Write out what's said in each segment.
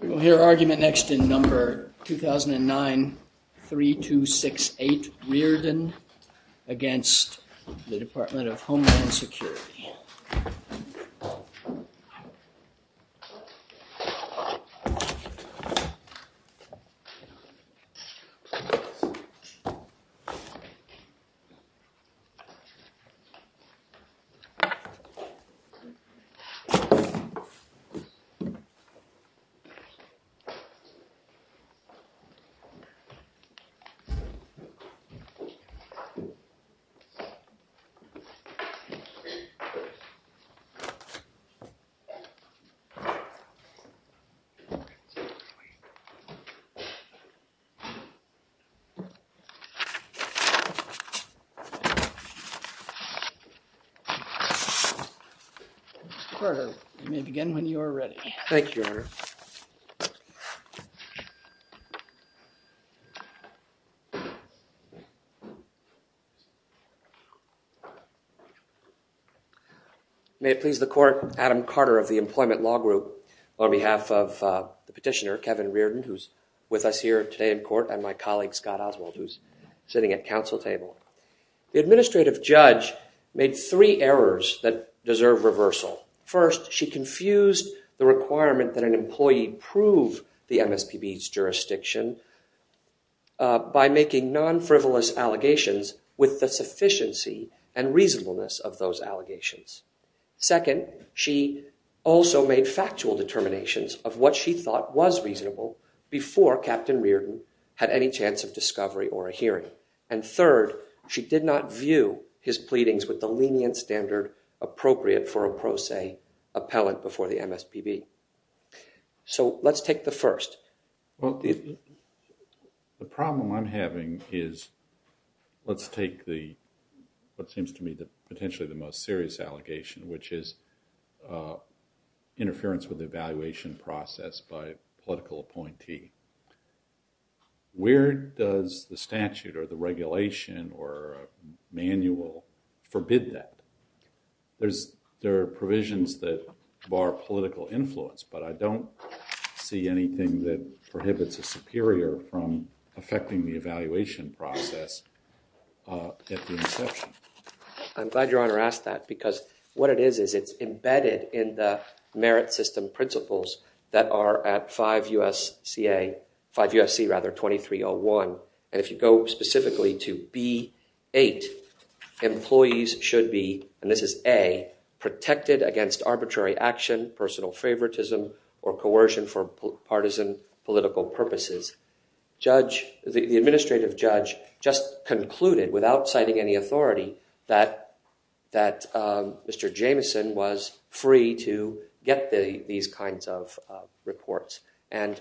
We will hear argument next in number 2009-3268 Reardon against the Department of Homeland services. Begin when you're ready. May it please the court, Adam Carter of the Employment Law Group, on behalf of the petitioner Kevin Reardon, who's with us here today in court, and my colleague Scott Oswald, who's sitting at council table. The administrative judge made three errors that deserve reversal. First, she confused the requirement that an employee prove the MSPB's jurisdiction by making non-frivolous allegations with the sufficiency and reasonableness of those allegations. Second, she also made factual determinations of what she thought was reasonable before Captain Reardon had any chance of discovery or a hearing. And third, she did not view his pleadings with the lenient standard appropriate for a pro se appellant before the MSPB. So let's take the first. Well, the problem I'm having is, let's take what seems to me potentially the most serious allegation, which is interference with the evaluation process by a political appointee. Where does the statute or the regulation or manual forbid that? There are provisions that bar political influence, but I don't see anything that prohibits a superior from affecting the evaluation process at the inception. I'm glad Your Honor asked that, because what it is is it's embedded in the merit system principles that are at 5 U.S.C. 2301. And if you go specifically to B.8, employees should be, and this is A, protected against arbitrary action, personal favoritism, or coercion for partisan political purposes. The administrative judge just concluded, without citing any authority, that Mr. Jameson was free to get these kinds of reports. And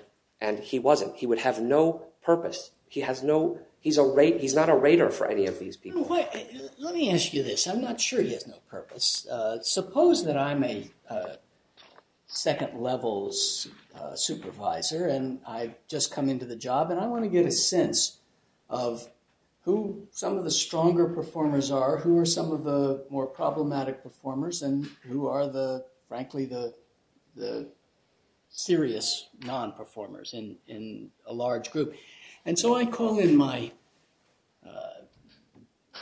he wasn't. He would have no purpose. He's not a raider for any of these people. Let me ask you this. I'm not sure he has no purpose. Suppose that I'm a second levels supervisor, and I've just come into the job, and I want to get a sense of who some of the stronger performers are, who are some of the more problematic performers, and who are, frankly, the serious non-performers in a large group. And so I call in my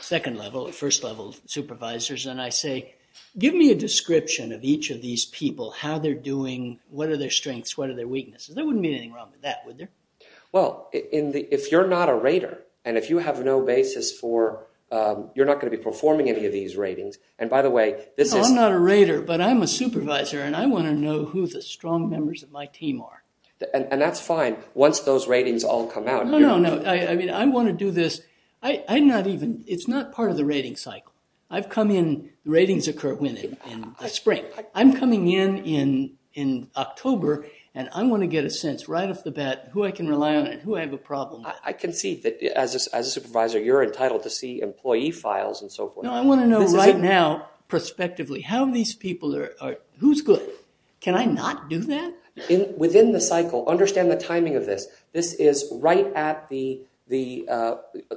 second level, first level supervisors, and I say, give me a description of each of these people, how they're doing, what are their strengths, what are their weaknesses. There wouldn't be anything wrong with that, would there? Well, if you're not a raider, and if you have no basis for, you're not going to be performing any of these ratings, and by the way, this is... No, I'm not a raider, but I'm a supervisor, and I want to know who the strong members of my team are. And that's fine, once those ratings all come out. No, no, no, I mean, I want to do this, I'm not even, it's not part of the rating cycle. I've come in, ratings occur in the spring. I'm coming in in October, and I want to get a sense right off the bat who I can rely on and who I have a problem with. I can see that as a supervisor, you're entitled to see employee files and so forth. No, I want to know right now, prospectively, how these people are, who's good? Can I not do that? Within the cycle, understand the timing of this. This is right at the,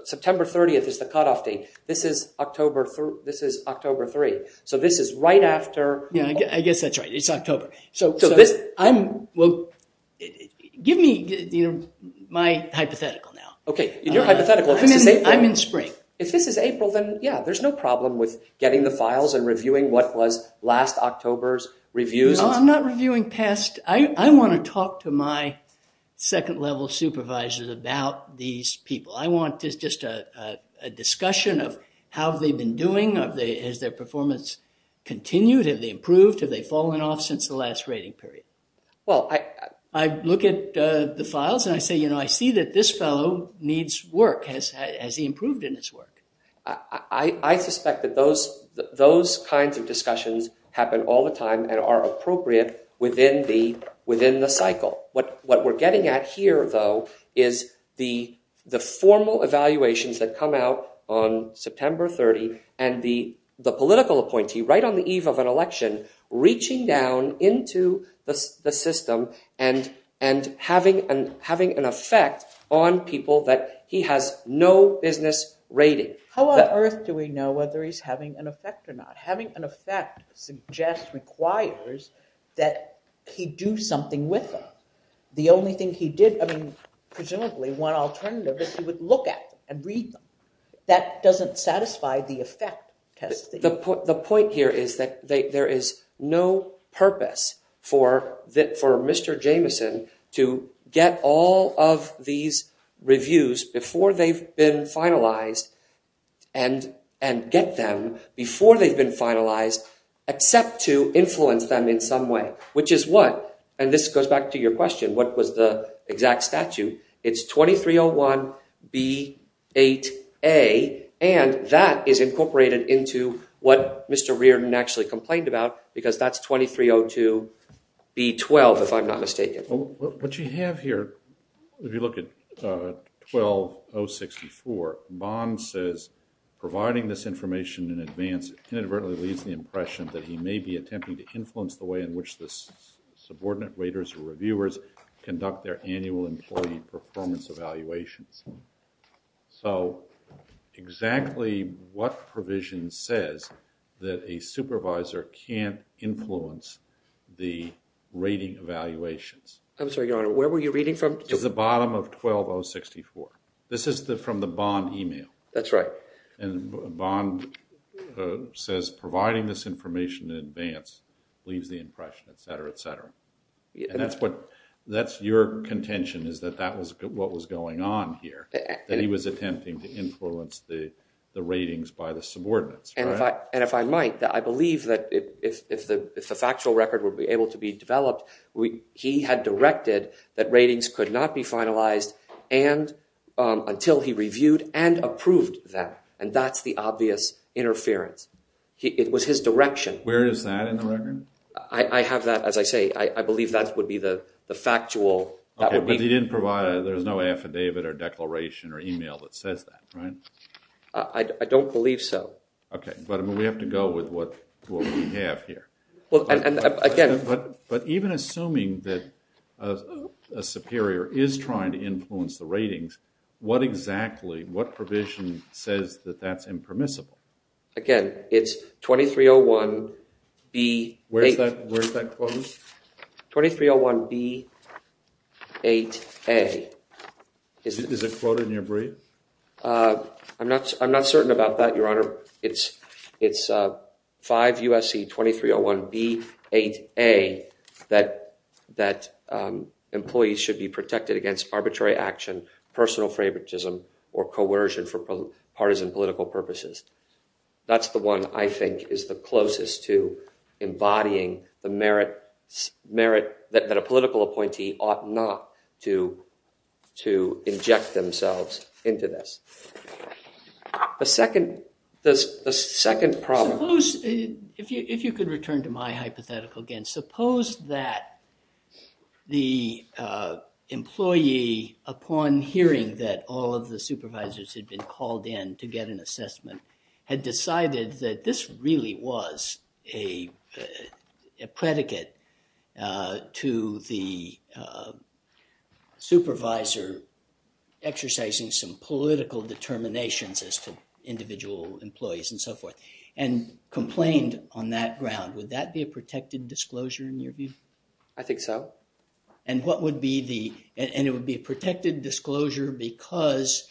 September 30th is the cutoff date. This is October 3rd, so this is right after... Yeah, I guess that's right, it's October. So this... I'm, well, give me my hypothetical now. Okay, your hypothetical, if this is April... I'm in spring. If this is April, then yeah, there's no problem with getting the files and reviewing what was last October's reviews. Well, I'm not reviewing past... I want to talk to my second-level supervisors about these people. I want just a discussion of how they've been doing, has their performance continued, have they improved, have they fallen off since the last rating period. Well, I... I look at the files, and I say, you know, I see that this fellow needs work. Has he improved in his work? I suspect that those kinds of discussions happen all the time and are appropriate within the cycle. What we're getting at here, though, is the formal evaluations that come out on September 30, and the political appointee, right on the eve of an election, reaching down into the system and having an effect on people that he has no business rating. How on earth do we know whether he's having an effect or not? Having an effect requires that he do something with them. The only thing he did... I mean, presumably, one alternative is he would look at them and read them. That doesn't satisfy the effect test. The point here is that there is no purpose for Mr. Jameson to get all of these reviews before they've been finalized and get them before they've been finalized, except to influence them in some way. Which is what? And this goes back to your question, what was the exact statute? It's 2301B8A, and that is incorporated into what Mr. Reardon actually complained about, because that's 2302B12, if I'm not mistaken. What you have here, if you look at 12064, Bond says, providing this information in advance inadvertently leaves the impression that he may be attempting to influence the way in which the subordinate raters or reviewers conduct their annual employee performance evaluations. So exactly what provision says that a supervisor can't influence the rating evaluations? I'm sorry, Your Honor, where were you reading from? It's the bottom of 12064. This is from the Bond email. That's right. And Bond says, providing this information in advance leaves the impression, etc., etc. And that's your contention, is that that was what was going on here, that he was attempting to influence the ratings by the subordinates, right? And if I might, I believe that if the factual record were able to be developed, he had directed that ratings could not be finalized until he reviewed and approved them. And that's the obvious interference. It was his direction. Where is that in the record? I have that, as I say. I believe that would be the factual. Okay, but he didn't provide, there's no affidavit or declaration or email that says that, right? I don't believe so. Okay, but we have to go with what we have here. Well, and again. But even assuming that a superior is trying to influence the ratings, what exactly, what provision says that that's impermissible? Again, it's 2301B8A. Where is that quoted? 2301B8A. Is it quoted in your brief? I'm not certain about that, Your Honor. It's 5 U.S.C. 2301B8A that employees should be protected against arbitrary action, personal favoritism, or coercion for partisan political purposes. That's the one I think is the closest to embodying the merit that a political appointee ought not to inject themselves into this. The second problem. Suppose, if you could return to my hypothetical again. Suppose that the employee, upon hearing that all of the supervisors had been called in to get an assessment, had decided that this really was a predicate to the supervisor exercising some political determinations as to individual employees and so forth, and complained on that ground. Would that be a protected disclosure in your view? I think so. And it would be a protected disclosure because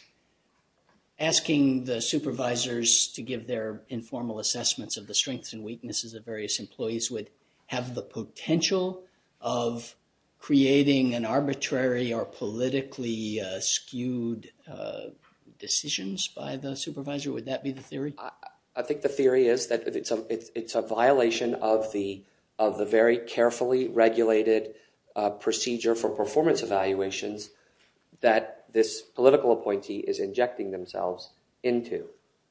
asking the supervisors to give their informal assessments of the strengths and weaknesses of various employees would have the potential of creating an arbitrary or politically skewed decisions by the supervisor? Would that be the theory? I think the theory is that it's a violation of the very carefully regulated procedure for performance evaluations that this political appointee is injecting themselves into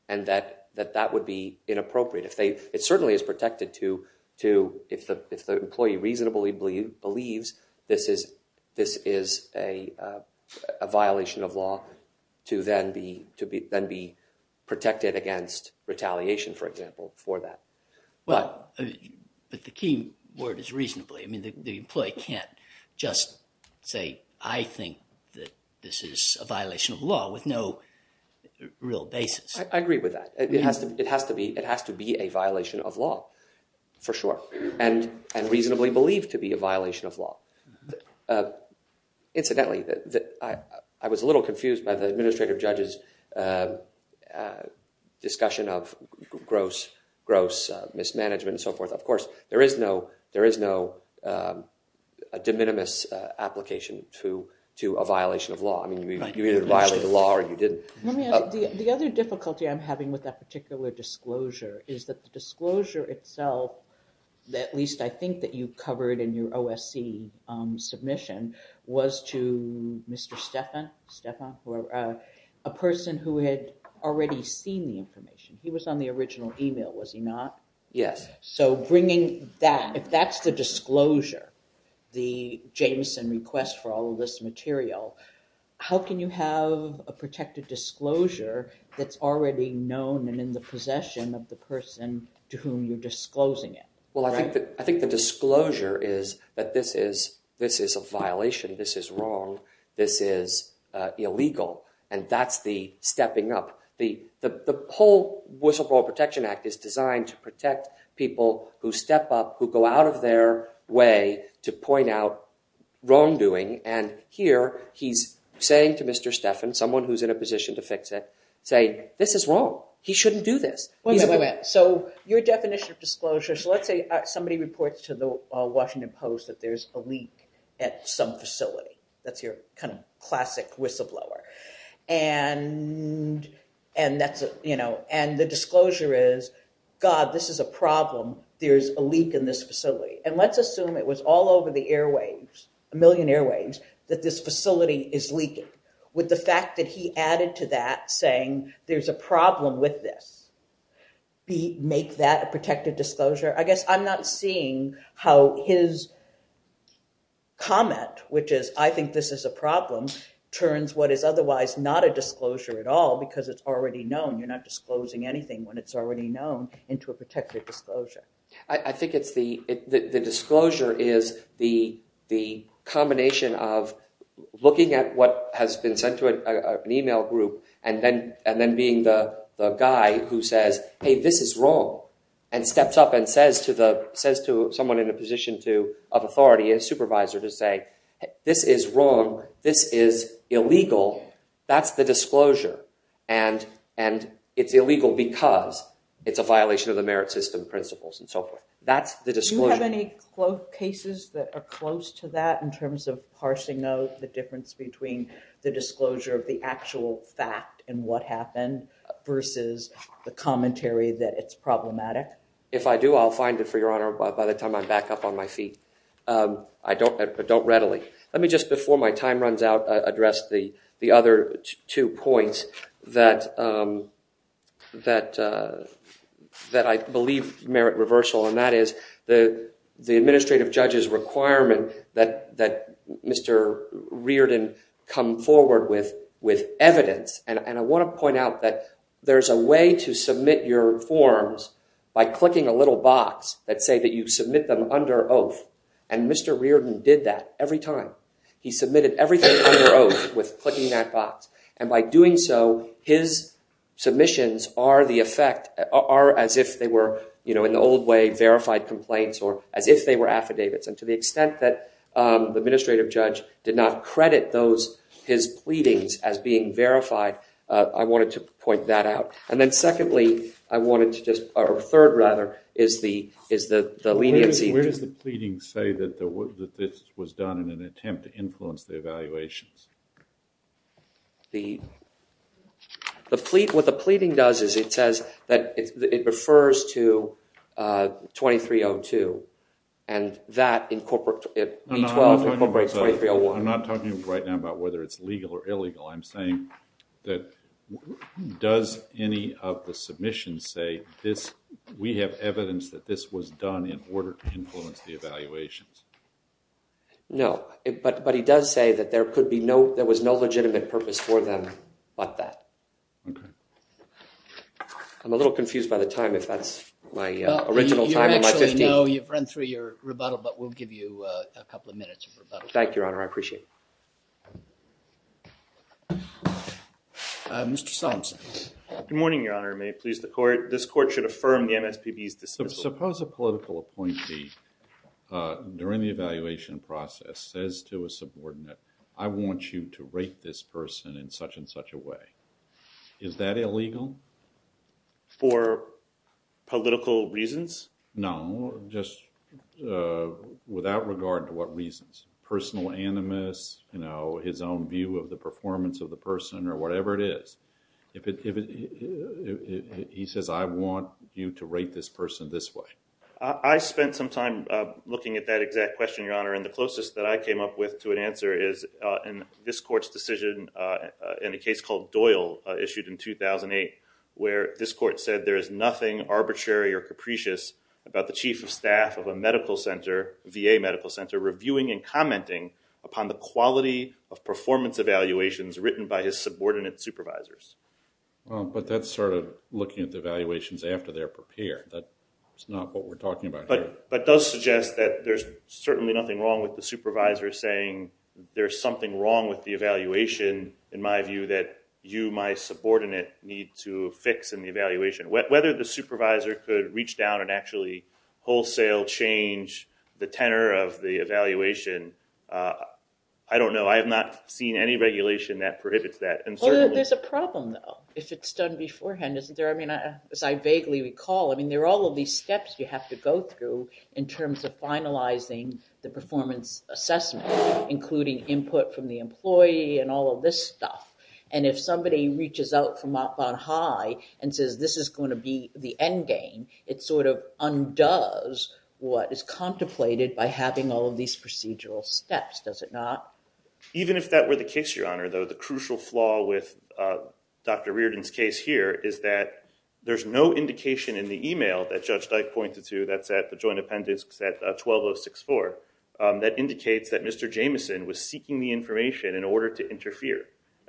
and that that would be inappropriate. It certainly is protected if the employee reasonably believes this is a violation of law to then be protected against retaliation, for example, for that. But the key word is reasonably. The employee can't just say, I think that this is a violation of law with no real basis. I agree with that. It has to be a violation of law, for sure, and reasonably believed to be a violation of law. Incidentally, I was a little confused by the administrative judge's discussion of gross mismanagement and so forth. Of course, there is no de minimis application to a violation of law. You either violated the law or you didn't. The other difficulty I'm having with that particular disclosure is that the disclosure itself, at least I think that you covered in your OSC submission, was to Mr. Stephan, a person who had already seen the information. He was on the original email, was he not? Yes. If that's the disclosure, the Jameson request for all of this material, how can you have a protected disclosure that's already known and in the possession of the person to whom you're disclosing it? I think the disclosure is that this is a violation, this is wrong, this is illegal, and that's the stepping up. The whole Whistleblower Protection Act is designed to protect people who step up, who go out of their way to point out wrongdoing. Here, he's saying to Mr. Stephan, someone who's in a position to fix it, saying, this is wrong, he shouldn't do this. Wait, wait, wait. Your definition of disclosure, let's say somebody reports to the Washington Post that there's a leak at some facility. That's your classic whistleblower. And the disclosure is, God, this is a problem, there's a leak in this facility. And let's assume it was all over the airwaves, a million airwaves, that this facility is leaking, with the fact that he added to that saying, there's a problem with this. Make that a protected disclosure? I guess I'm not seeing how his comment, which is, I think this is a problem, turns what is otherwise not a disclosure at all because it's already known. You're not disclosing anything when it's already known into a protected disclosure. I think the disclosure is the combination of looking at what has been sent to an email group and then being the guy who says, hey, this is wrong. And steps up and says to someone in a position of authority, a supervisor, to say, this is wrong, this is illegal, that's the disclosure. And it's illegal because it's a violation of the merit system principles and so forth. That's the disclosure. Do you have any cases that are close to that in terms of parsing out the difference between the disclosure of the actual fact and what happened versus the commentary that it's problematic? If I do, I'll find it, for your honor, by the time I'm back up on my feet. I don't readily. Let me just, before my time runs out, address the other two points that I believe merit reversal. And that is the administrative judge's requirement that Mr. Reardon come forward with evidence. And I want to point out that there's a way to submit your forms by clicking a little box that say that you submit them under oath. And Mr. Reardon did that every time. He submitted everything under oath with clicking that box. And by doing so, his submissions are as if they were, in the old way, verified complaints or as if they were affidavits. And to the extent that the administrative judge did not credit his pleadings as being verified, I wanted to point that out. And then secondly, I wanted to just, or third rather, is the leniency. Where does the pleading say that this was done in an attempt to influence the evaluations? The, what the pleading does is it says that it refers to 2302. And that incorporates, B-12 incorporates 2301. I'm not talking right now about whether it's legal or illegal. I'm saying that does any of the submissions say this, we have evidence that this was done in order to influence the evaluations? No. But he does say that there could be no, there was no legitimate purpose for them but that. Okay. I'm a little confused by the time if that's my original time or my 15th. You actually know, you've run through your rebuttal, but we'll give you a couple of minutes of rebuttal. Thank you, Your Honor. I appreciate it. Mr. Solomonson. Good morning, Your Honor. May it please the court. This court should affirm the MSPB's dismissal. Suppose a political appointee during the evaluation process says to a subordinate, I want you to rate this person in such and such a way. Is that illegal? For political reasons? No, just without regard to what reasons, personal animus, you know, his own view of the performance of the person or whatever it is. He says, I want you to rate this person this way. I spent some time looking at that exact question, Your Honor, and the closest that I came up with to an answer is in this court's decision in a case called Doyle issued in 2008 where this court said there is nothing arbitrary or capricious about the chief of staff of a medical center, VA medical center, reviewing and commenting upon the quality of performance evaluations written by his subordinate supervisors. But that's sort of looking at the evaluations after they're prepared. That's not what we're talking about here. But it does suggest that there's certainly nothing wrong with the supervisor saying there's something wrong with the evaluation, in my view, that you, my subordinate, need to fix in the evaluation. Whether the supervisor could reach down and actually wholesale change the tenor of the evaluation, I don't know. I have not seen any regulation that prohibits that. There's a problem, though, if it's done beforehand, isn't there? I mean, as I vaguely recall, I mean, there are all of these steps you have to go through in terms of finalizing the performance assessment, including input from the employee and all of this stuff. And if somebody reaches out from up on high and says this is going to be the end game, it sort of undoes what is contemplated by having all of these procedural steps. Does it not? Even if that were the case, Your Honor, though, the crucial flaw with Dr. Reardon's case here is that there's no indication in the e-mail that Judge Dyke pointed to that's at the joint appendix at 12064 that indicates that Mr. Jameson was seeking the information in order to interfere.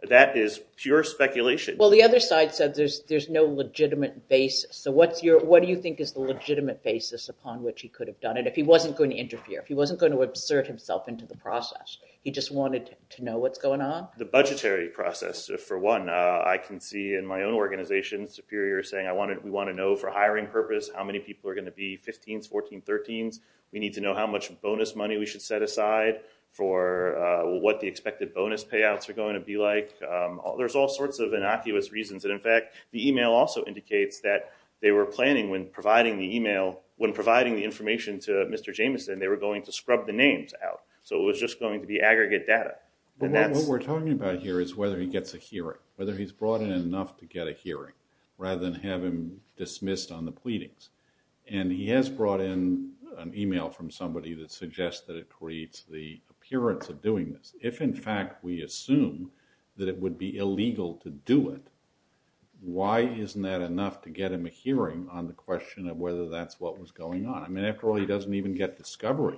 That is pure speculation. Well, the other side said there's no legitimate basis. So what do you think is the legitimate basis upon which he could have done it if he wasn't going to interfere, if he wasn't going to insert himself into the process? He just wanted to know what's going on? The budgetary process, for one. I can see in my own organization, Superior, saying we want to know for hiring purpose how many people are going to be 15s, 14s, 13s. We need to know how much bonus money we should set aside for what the expected bonus payouts are going to be like. There's all sorts of innocuous reasons. And, in fact, the e-mail also indicates that they were planning when providing the e-mail, that they were going to scrub the names out. So it was just going to be aggregate data. What we're talking about here is whether he gets a hearing, whether he's brought in enough to get a hearing, rather than have him dismissed on the pleadings. And he has brought in an e-mail from somebody that suggests that it creates the appearance of doing this. If, in fact, we assume that it would be illegal to do it, why isn't that enough to get him a hearing on the question of whether that's what was going on? I mean, after all, he doesn't even get discovery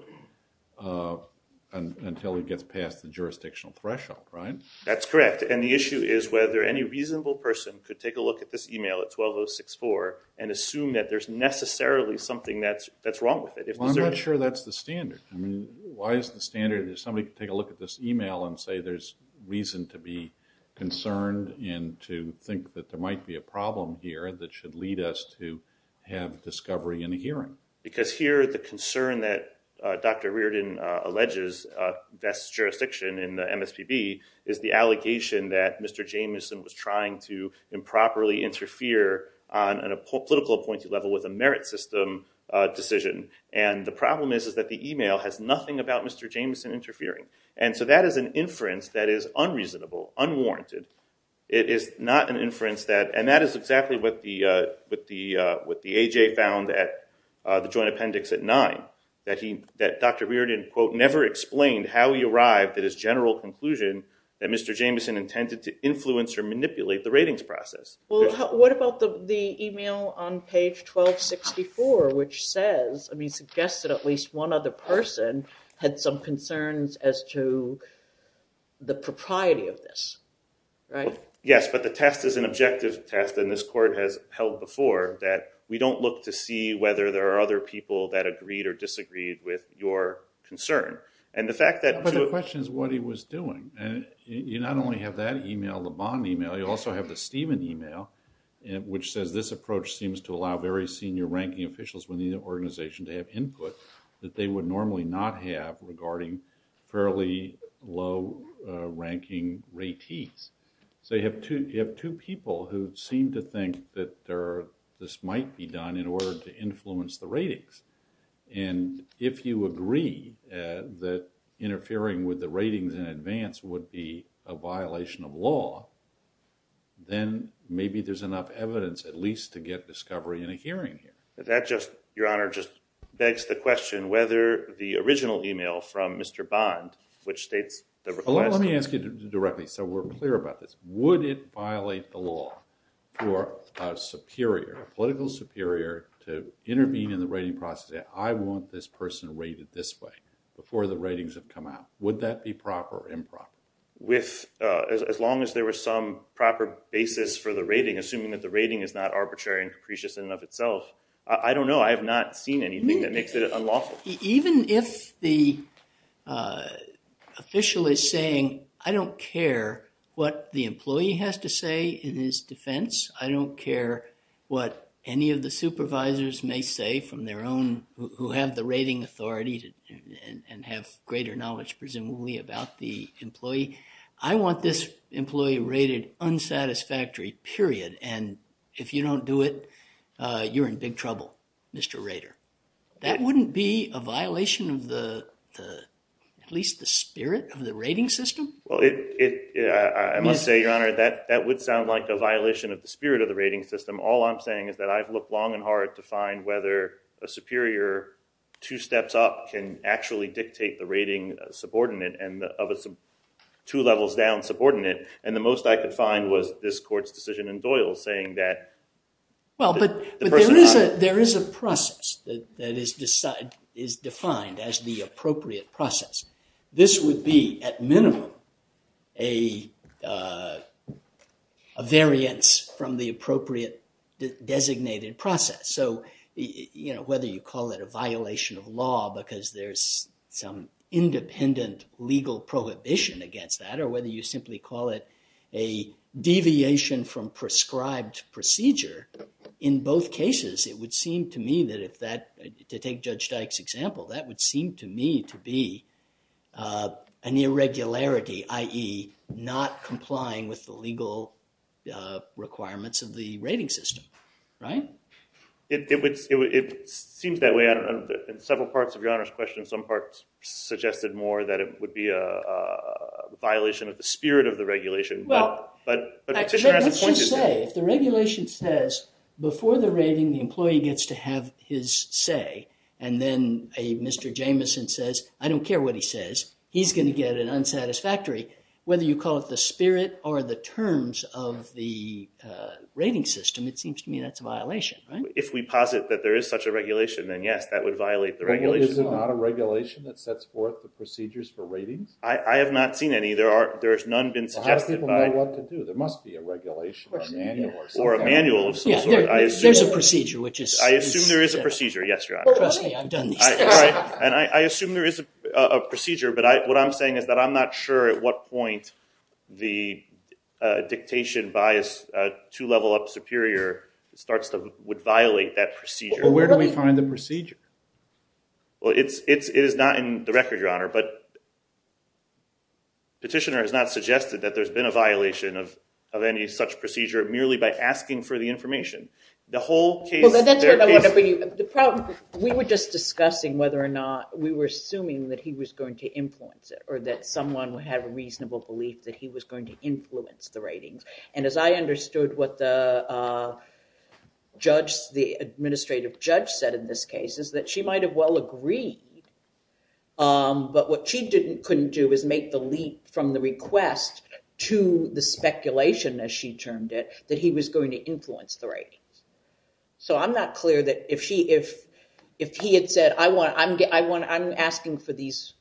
until he gets past the jurisdictional threshold, right? That's correct. And the issue is whether any reasonable person could take a look at this e-mail at 12064 and assume that there's necessarily something that's wrong with it. Well, I'm not sure that's the standard. I mean, why is the standard that somebody could take a look at this e-mail and say there's reason to be concerned and to think that there might be a problem here that should lead us to have discovery and a hearing? Because here the concern that Dr. Reardon alleges best jurisdiction in the MSPB is the allegation that Mr. Jameson was trying to improperly interfere on a political appointee level with a merit system decision. And the problem is that the e-mail has nothing about Mr. Jameson interfering. And so that is an inference that is unreasonable, unwarranted. It is not an inference that – and that is exactly what the AJ found at the joint appendix at 9, that Dr. Reardon, quote, never explained how he arrived at his general conclusion that Mr. Jameson intended to influence or manipulate the ratings process. Well, what about the e-mail on page 1264 which says – Yes, but the test is an objective test, and this court has held before, that we don't look to see whether there are other people that agreed or disagreed with your concern. But the question is what he was doing. You not only have that e-mail, the Bond e-mail, you also have the Stephen e-mail, which says this approach seems to allow very senior ranking officials within the organization to have input that they would normally not have regarding fairly low-ranking ratees. So you have two people who seem to think that this might be done in order to influence the ratings. And if you agree that interfering with the ratings in advance would be a violation of law, then maybe there's enough evidence at least to get discovery in a hearing here. That just, Your Honor, just begs the question whether the original e-mail from Mr. Bond, which states – Let me ask you directly so we're clear about this. Would it violate the law for a superior, a political superior, to intervene in the rating process, I want this person rated this way before the ratings have come out? Would that be proper or improper? Assuming that the rating is not arbitrary and capricious in and of itself. I don't know. I have not seen anything that makes it unlawful. Even if the official is saying, I don't care what the employee has to say in his defense, I don't care what any of the supervisors may say from their own – who have the rating authority and have greater knowledge presumably about the employee. I want this employee rated unsatisfactory, period. And if you don't do it, you're in big trouble, Mr. Rader. That wouldn't be a violation of at least the spirit of the rating system? I must say, Your Honor, that would sound like a violation of the spirit of the rating system. All I'm saying is that I've looked long and hard to find whether a superior two steps up can actually dictate the rating subordinate of a two levels down subordinate. And the most I could find was this court's decision in Doyle saying that – Well, but there is a process that is defined as the appropriate process. This would be, at minimum, a variance from the appropriate designated process. So whether you call it a violation of law because there's some independent legal prohibition against that or whether you simply call it a deviation from prescribed procedure, in both cases it would seem to me that if that – to take Judge Dyke's example, that would seem to me to be an irregularity, i.e. not complying with the legal requirements of the rating system. Right? It seems that way. In several parts of Your Honor's question, some parts suggested more that it would be a violation of the spirit of the regulation. Well, let's just say if the regulation says before the rating the employee gets to have his say and then a Mr. Jameson says, I don't care what he says, he's going to get an unsatisfactory, whether you call it the spirit or the terms of the rating system, it seems to me that's a violation. Right? If we posit that there is such a regulation, then yes, that would violate the regulation. Is it not a regulation that sets forth the procedures for ratings? I have not seen any. There's none been suggested by – Well, how do people know what to do? There must be a regulation or a manual or something. Or a manual of some sort. I assume – There's a procedure which is – I assume there is a procedure. Yes, Your Honor. Trust me, I've done these things. And I assume there is a procedure, but what I'm saying is that I'm not sure at what point the dictation bias to level up superior starts to – would violate that procedure. Well, where do we find the procedure? Well, it is not in the record, Your Honor, but petitioner has not suggested that there's been a violation of any such procedure merely by asking for the information. The whole case – We were just discussing whether or not we were assuming that he was going to influence it or that someone would have a reasonable belief that he was going to influence the ratings. And as I understood what the judge, the administrative judge said in this case, is that she might have well agreed, but what she couldn't do is make the leap from the request to the speculation, as she termed it, that he was going to influence the ratings. So I'm not clear that if he had said, I'm asking for these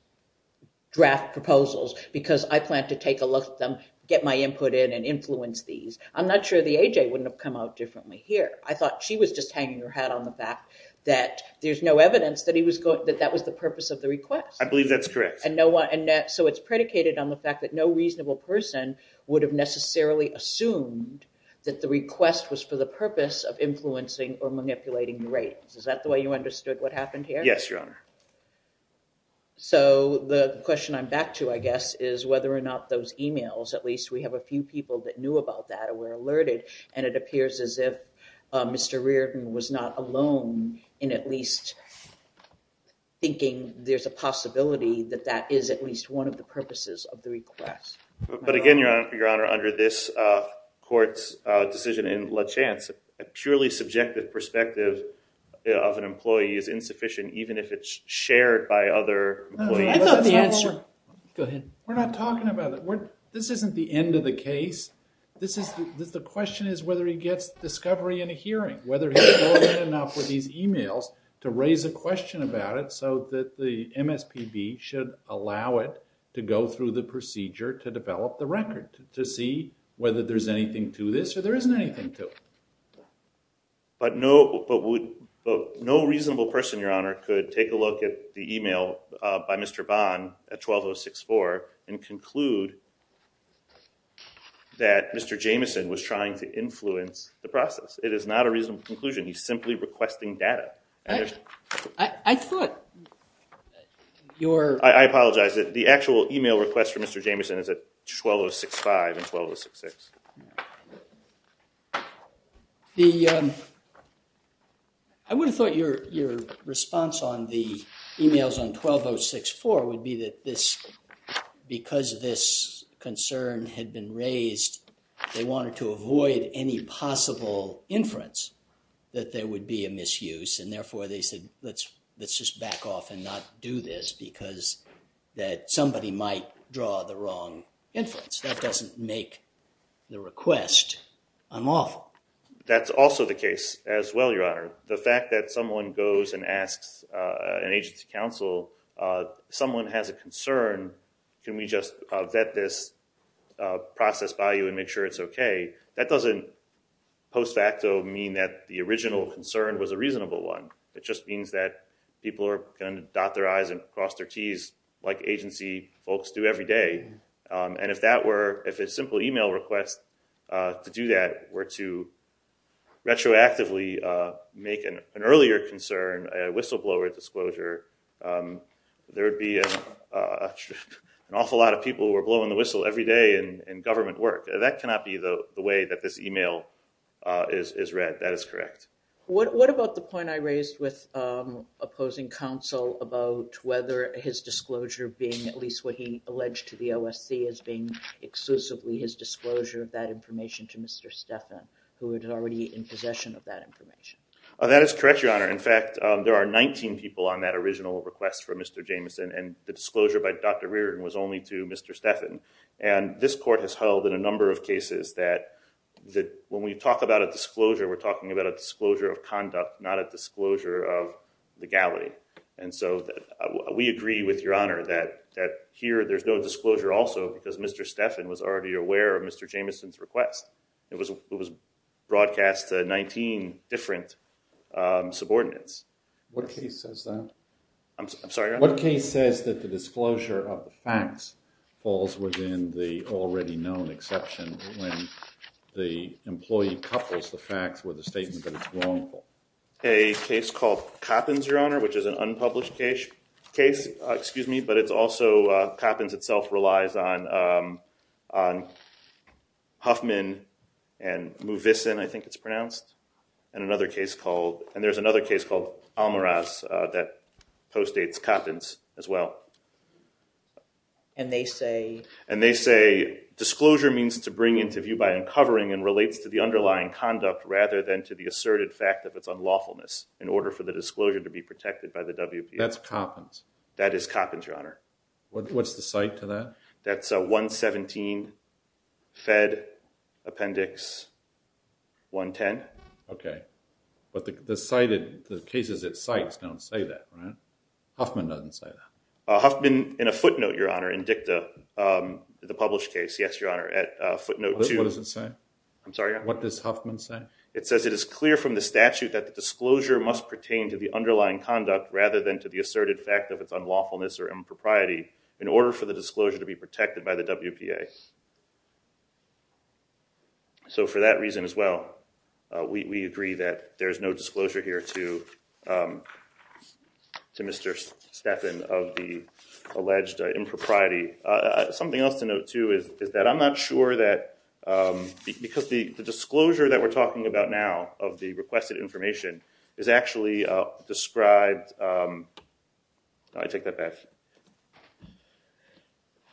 draft proposals because I plan to take a look at them, get my input in and influence these. I'm not sure the A.J. wouldn't have come out differently here. I thought she was just hanging her hat on the back that there's no evidence that that was the purpose of the request. I believe that's correct. And so it's predicated on the fact that no reasonable person would have necessarily assumed that the request was for the purpose of influencing or manipulating the ratings. Is that the way you understood what happened here? Yes, Your Honor. So the question I'm back to, I guess, is whether or not those emails, at least we have a few people that knew about that or were alerted, and it appears as if Mr. Reardon was not alone in at least thinking there's a possibility that that is at least one of the purposes of the request. But again, Your Honor, under this court's decision in La Chance, a purely subjective perspective of an employee is insufficient, even if it's shared by other employees. I thought the answer— Go ahead. We're not talking about it. This isn't the end of the case. The question is whether he gets discovery in a hearing, whether he's more than enough with these emails to raise a question about it so that the MSPB should allow it to go through the procedure to develop the record to see whether there's anything to this or there isn't anything to it. But no reasonable person, Your Honor, could take a look at the email by Mr. Bond at 12064 and conclude that Mr. Jameson was trying to influence the process. It is not a reasonable conclusion. He's simply requesting data. I thought your— I apologize. The actual email request from Mr. Jameson is at 12065 and 12066. I would have thought your response on the emails on 12064 would be that because this concern had been raised, they wanted to avoid any possible inference that there would be a misuse and therefore they said let's just back off and not do this because that somebody might draw the wrong inference. That doesn't make the request unlawful. That's also the case as well, Your Honor. The fact that someone goes and asks an agency counsel, someone has a concern, can we just vet this process by you and make sure it's okay, that doesn't post facto mean that the original concern was a reasonable one. It just means that people are going to dot their I's and cross their T's like agency folks do every day. And if a simple email request to do that were to retroactively make an earlier concern, a whistleblower disclosure, there would be an awful lot of people who are blowing the whistle every day in government work. That cannot be the way that this email is read. That is correct. What about the point I raised with opposing counsel about whether his disclosure being at least what he alleged to the OSC as being exclusively his disclosure of that information to Mr. Stephan, who is already in possession of that information? That is correct, Your Honor. In fact, there are 19 people on that original request from Mr. Jamieson, and the disclosure by Dr. Reardon was only to Mr. Stephan. This court has held in a number of cases that when we talk about a disclosure, we're talking about a disclosure of conduct, not a disclosure of legality. We agree with Your Honor that here there's no disclosure also because Mr. Stephan was already aware of Mr. Jamieson's request. It was broadcast to 19 different subordinates. What case says that? I'm sorry, Your Honor? What case says that the disclosure of the facts falls within the already known exception when the employee couples the facts with a statement that it's wrongful? A case called Coppins, Your Honor, which is an unpublished case, but it's also Coppins itself relies on Huffman and Movison, I think it's pronounced, and there's another case called Almaraz that postdates Coppins as well. And they say? And they say disclosure means to bring into view by uncovering and relates to the underlying conduct rather than to the asserted fact of its unlawfulness in order for the disclosure to be protected by the WPA. That's Coppins? That is Coppins, Your Honor. What's the cite to that? That's 117 Fed Appendix 110. Okay. But the cases it cites don't say that, right? Huffman doesn't say that. Huffman, in a footnote, Your Honor, in DICTA, the published case, yes, Your Honor, at footnote 2. What does it say? I'm sorry, Your Honor? What does Huffman say? It says it is clear from the statute that the disclosure must pertain to the asserted fact of its unlawfulness or impropriety in order for the disclosure to be protected by the WPA. So for that reason as well, we agree that there's no disclosure here to Mr. Stephan of the alleged impropriety. Something else to note, too, is that I'm not sure that because the disclosure that we're No, I take that back.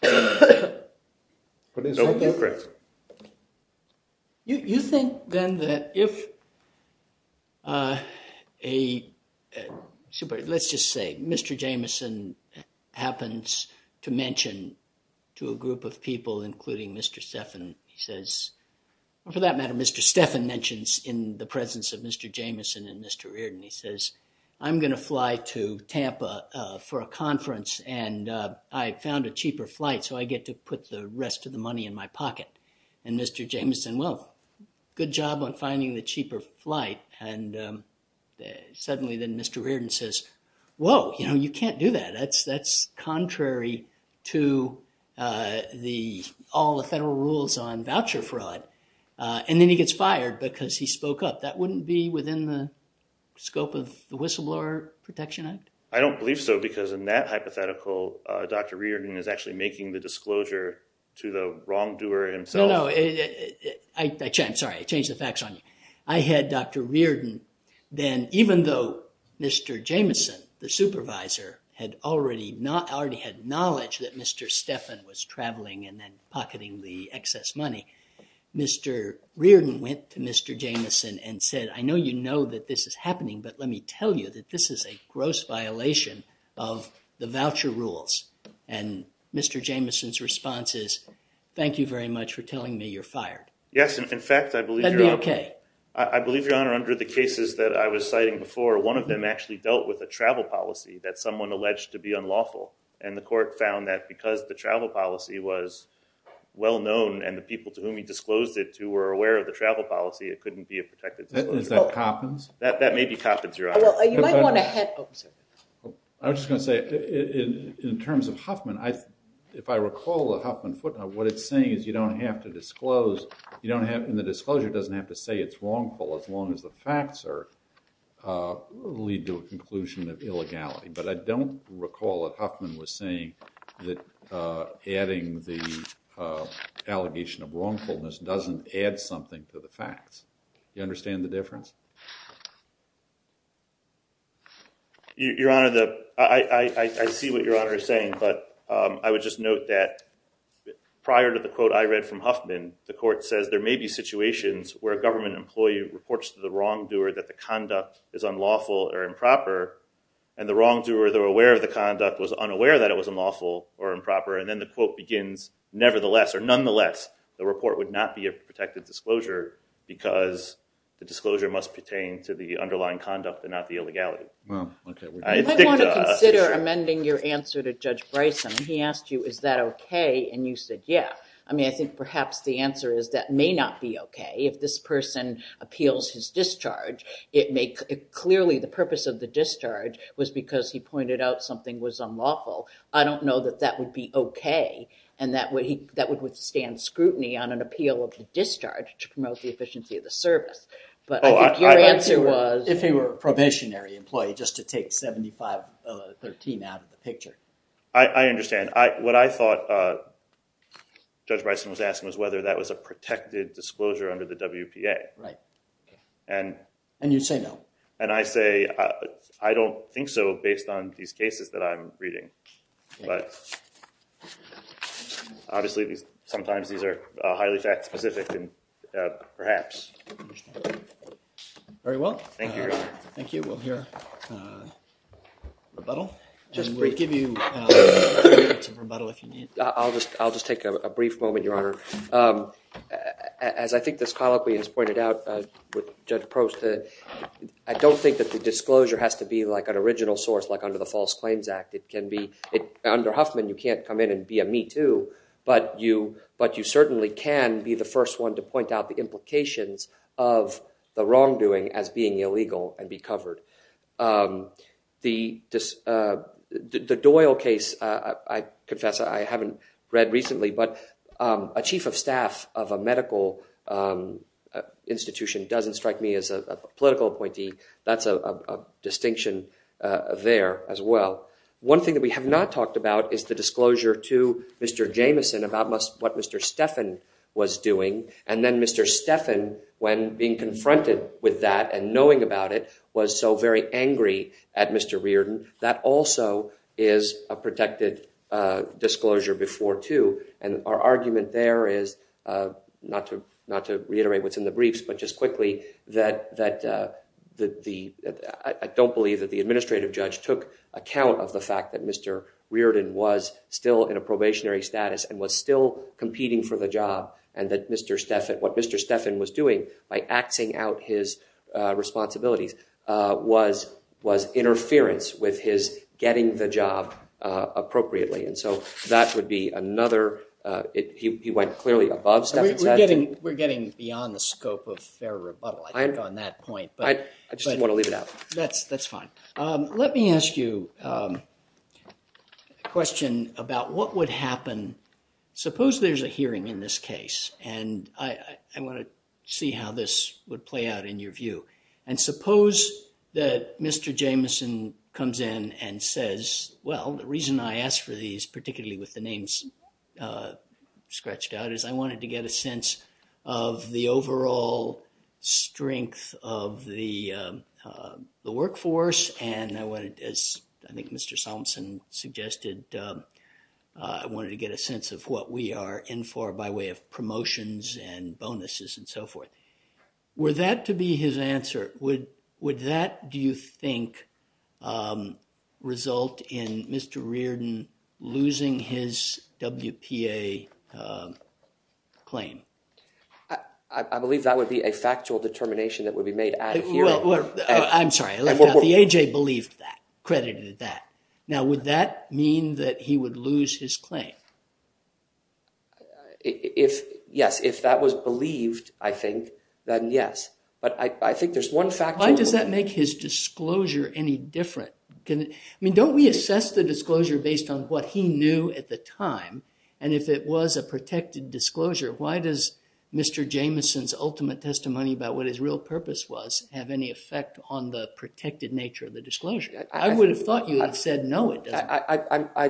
No, you're correct. You think then that if a, let's just say Mr. Jamison happens to mention to a group of people, including Mr. Stephan, he says, for that matter, Mr. Stephan mentions in the presence of Mr. Jamison and Mr. Stephan says, I'm going to fly to Tampa for a conference, and I found a cheaper flight, so I get to put the rest of the money in my pocket. And Mr. Jamison, well, good job on finding the cheaper flight. And suddenly then Mr. Reardon says, whoa, you know, you can't do that. That's contrary to all the federal rules on voucher fraud. And then he gets fired because he spoke up. That wouldn't be within the scope of the Whistleblower Protection Act? I don't believe so because in that hypothetical, Dr. Reardon is actually making the disclosure to the wrongdoer himself. No, no. I'm sorry. I changed the facts on you. I had Dr. Reardon then, even though Mr. Jamison, the supervisor, had already had knowledge that Mr. Stephan was traveling and then pocketing the excess money, Mr. Reardon said, I know you know that this is happening, but let me tell you that this is a gross violation of the voucher rules. And Mr. Jamison's response is, thank you very much for telling me you're fired. Yes. In fact, I believe you're on. That'd be OK. I believe, Your Honor, under the cases that I was citing before, one of them actually dealt with a travel policy that someone alleged to be unlawful. And the court found that because the travel policy was well-known and the people to whom he disclosed it who were aware of the travel policy, it couldn't be a protected disclosure. Is that Coppins? That may be Coppins, Your Honor. Well, you might want to head. Oh, I'm sorry. I was just going to say, in terms of Huffman, if I recall the Huffman footnote, what it's saying is you don't have to disclose. And the disclosure doesn't have to say it's wrongful as long as the facts lead to a conclusion of illegality. But I don't recall that Huffman was saying that adding the allegation of wrongfulness doesn't add something to the facts. Do you understand the difference? Your Honor, I see what Your Honor is saying. But I would just note that prior to the quote I read from Huffman, the court says there may be situations where a government employee reports to the wrongdoer that the conduct is unlawful or improper. And the wrongdoer, though aware of the conduct, was unaware that it was unlawful or improper. And then the quote begins, nevertheless, or nonetheless, the report would not be a protected disclosure because the disclosure must pertain to the underlying conduct and not the illegality. Well, OK. I think the— You might want to consider amending your answer to Judge Bryson. He asked you, is that OK? And you said, yeah. I mean, I think perhaps the answer is that may not be OK. If this person appeals his discharge, it may—clearly, the purpose of the discharge was because he pointed out something was unlawful. I don't know that that would be OK and that would withstand scrutiny on an appeal of the discharge to promote the efficiency of the service. But I think your answer was— If he were a probationary employee, just to take 7513 out of the picture. I understand. And what I thought Judge Bryson was asking was whether that was a protected disclosure under the WPA. Right. OK. And— And you say no. And I say, I don't think so based on these cases that I'm reading. But obviously, sometimes these are highly fact-specific and perhaps— I understand. Very well. Thank you, Your Honor. Thank you. We'll hear rebuttal. We'll give you three minutes of rebuttal if you need. I'll just take a brief moment, Your Honor. As I think this colloquy has pointed out with Judge Prost, I don't think that the disclosure has to be like an original source like under the False Claims Act. It can be—under Huffman, you can't come in and be a me too. But you certainly can be the first one to point out the implications of the wrongdoing as being illegal and be covered. The Doyle case, I confess I haven't read recently, but a chief of staff of a medical institution doesn't strike me as a political appointee. That's a distinction there as well. One thing that we have not talked about is the disclosure to Mr. Jameson about what Mr. Steffen was doing. And then Mr. Steffen, when being confronted with that and knowing about it, was so very angry at Mr. Reardon. That also is a protected disclosure before too. And our argument there is—not to reiterate what's in the briefs, but just quickly—that I don't believe that the administrative judge took account of the fact that Mr. Reardon was still in a probationary status and was still competing for the job and that Mr. Steffen—what Mr. Steffen was doing by axing out his responsibilities was interference with his getting the job appropriately. And so that would be another—he went clearly above Steffen's head. We're getting beyond the scope of fair rebuttal, I think, on that point. I just didn't want to leave it out. That's fine. Let me ask you a question about what would happen—suppose there's a hearing in this case. And I want to see how this would play out in your view. And suppose that Mr. Jameson comes in and says, well, the reason I asked for these, particularly with the names scratched out, is I wanted to get a sense of the overall strength of the workforce. And I wanted, as I think Mr. Somsen suggested, I wanted to get a sense of what we are in for by way of promotions and bonuses and so forth. Were that to be his answer, would that, do you think, result in Mr. Reardon losing his WPA claim? I believe that would be a factual determination that would be made at a hearing. I'm sorry. The A.J. believed that, credited that. Now, would that mean that he would lose his claim? Yes. If that was believed, I think, then yes. But I think there's one factual— Why does that make his disclosure any different? I mean, don't we assess the disclosure based on what he knew at the time? And if it was a protected disclosure, why does Mr. Jameson's ultimate testimony about I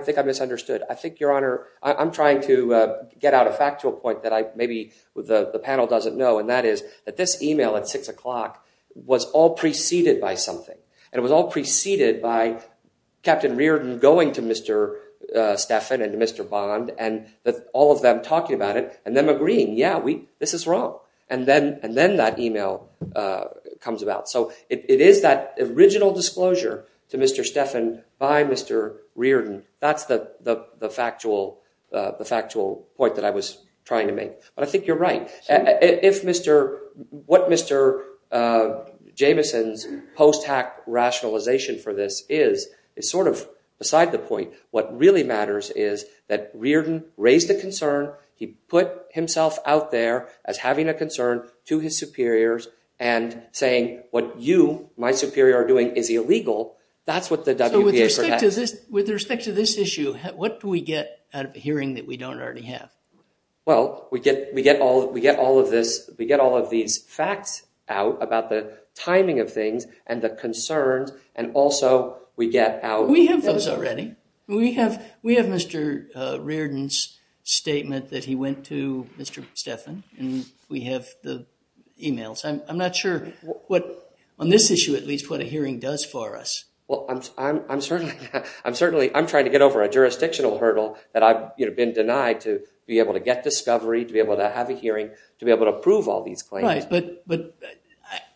think I misunderstood. I think, Your Honor, I'm trying to get out a factual point that maybe the panel doesn't know, and that is that this email at 6 o'clock was all preceded by something. And it was all preceded by Captain Reardon going to Mr. Stephan and Mr. Bond and all of them talking about it and them agreeing, yeah, this is wrong. And then that email comes about. So it is that original disclosure to Mr. Stephan by Mr. Reardon. That's the factual point that I was trying to make. But I think you're right. What Mr. Jameson's post-hack rationalization for this is, is sort of beside the point. What really matters is that Reardon raised a concern. He put himself out there as having a concern to his superiors and saying, what you, my superior, are doing is illegal. That's what the WPA protects. So with respect to this issue, what do we get out of a hearing that we don't already have? Well, we get all of this. We get all of these facts out about the timing of things and the concerns, and also we get out We have those already. We have Mr. Reardon's statement that he went to Mr. Stephan, and we have the emails. I'm not sure what, on this issue at least, what a hearing does for us. Well, I'm trying to get over a jurisdictional hurdle that I've been denied to be able to get discovery, to be able to have a hearing, to be able to prove all these claims. Right. But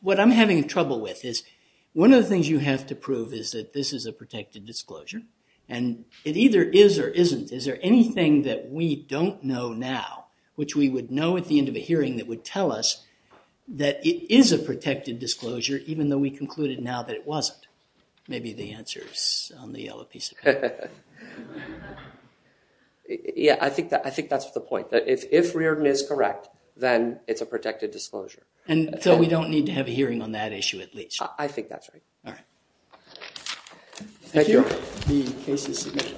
what I'm having trouble with is one of the things you have to prove is that this is a protected disclosure, and it either is or isn't. Is there anything that we don't know now, which we would know at the end of a hearing that would tell us that it is a protected disclosure, even though we concluded now that it wasn't? Maybe the answer is on the yellow piece of paper. Yeah, I think that's the point, that if Reardon is correct, then it's a protected disclosure. And so we don't need to have a hearing on that issue at least? I think that's right. All right. Thank you. The case is submitted.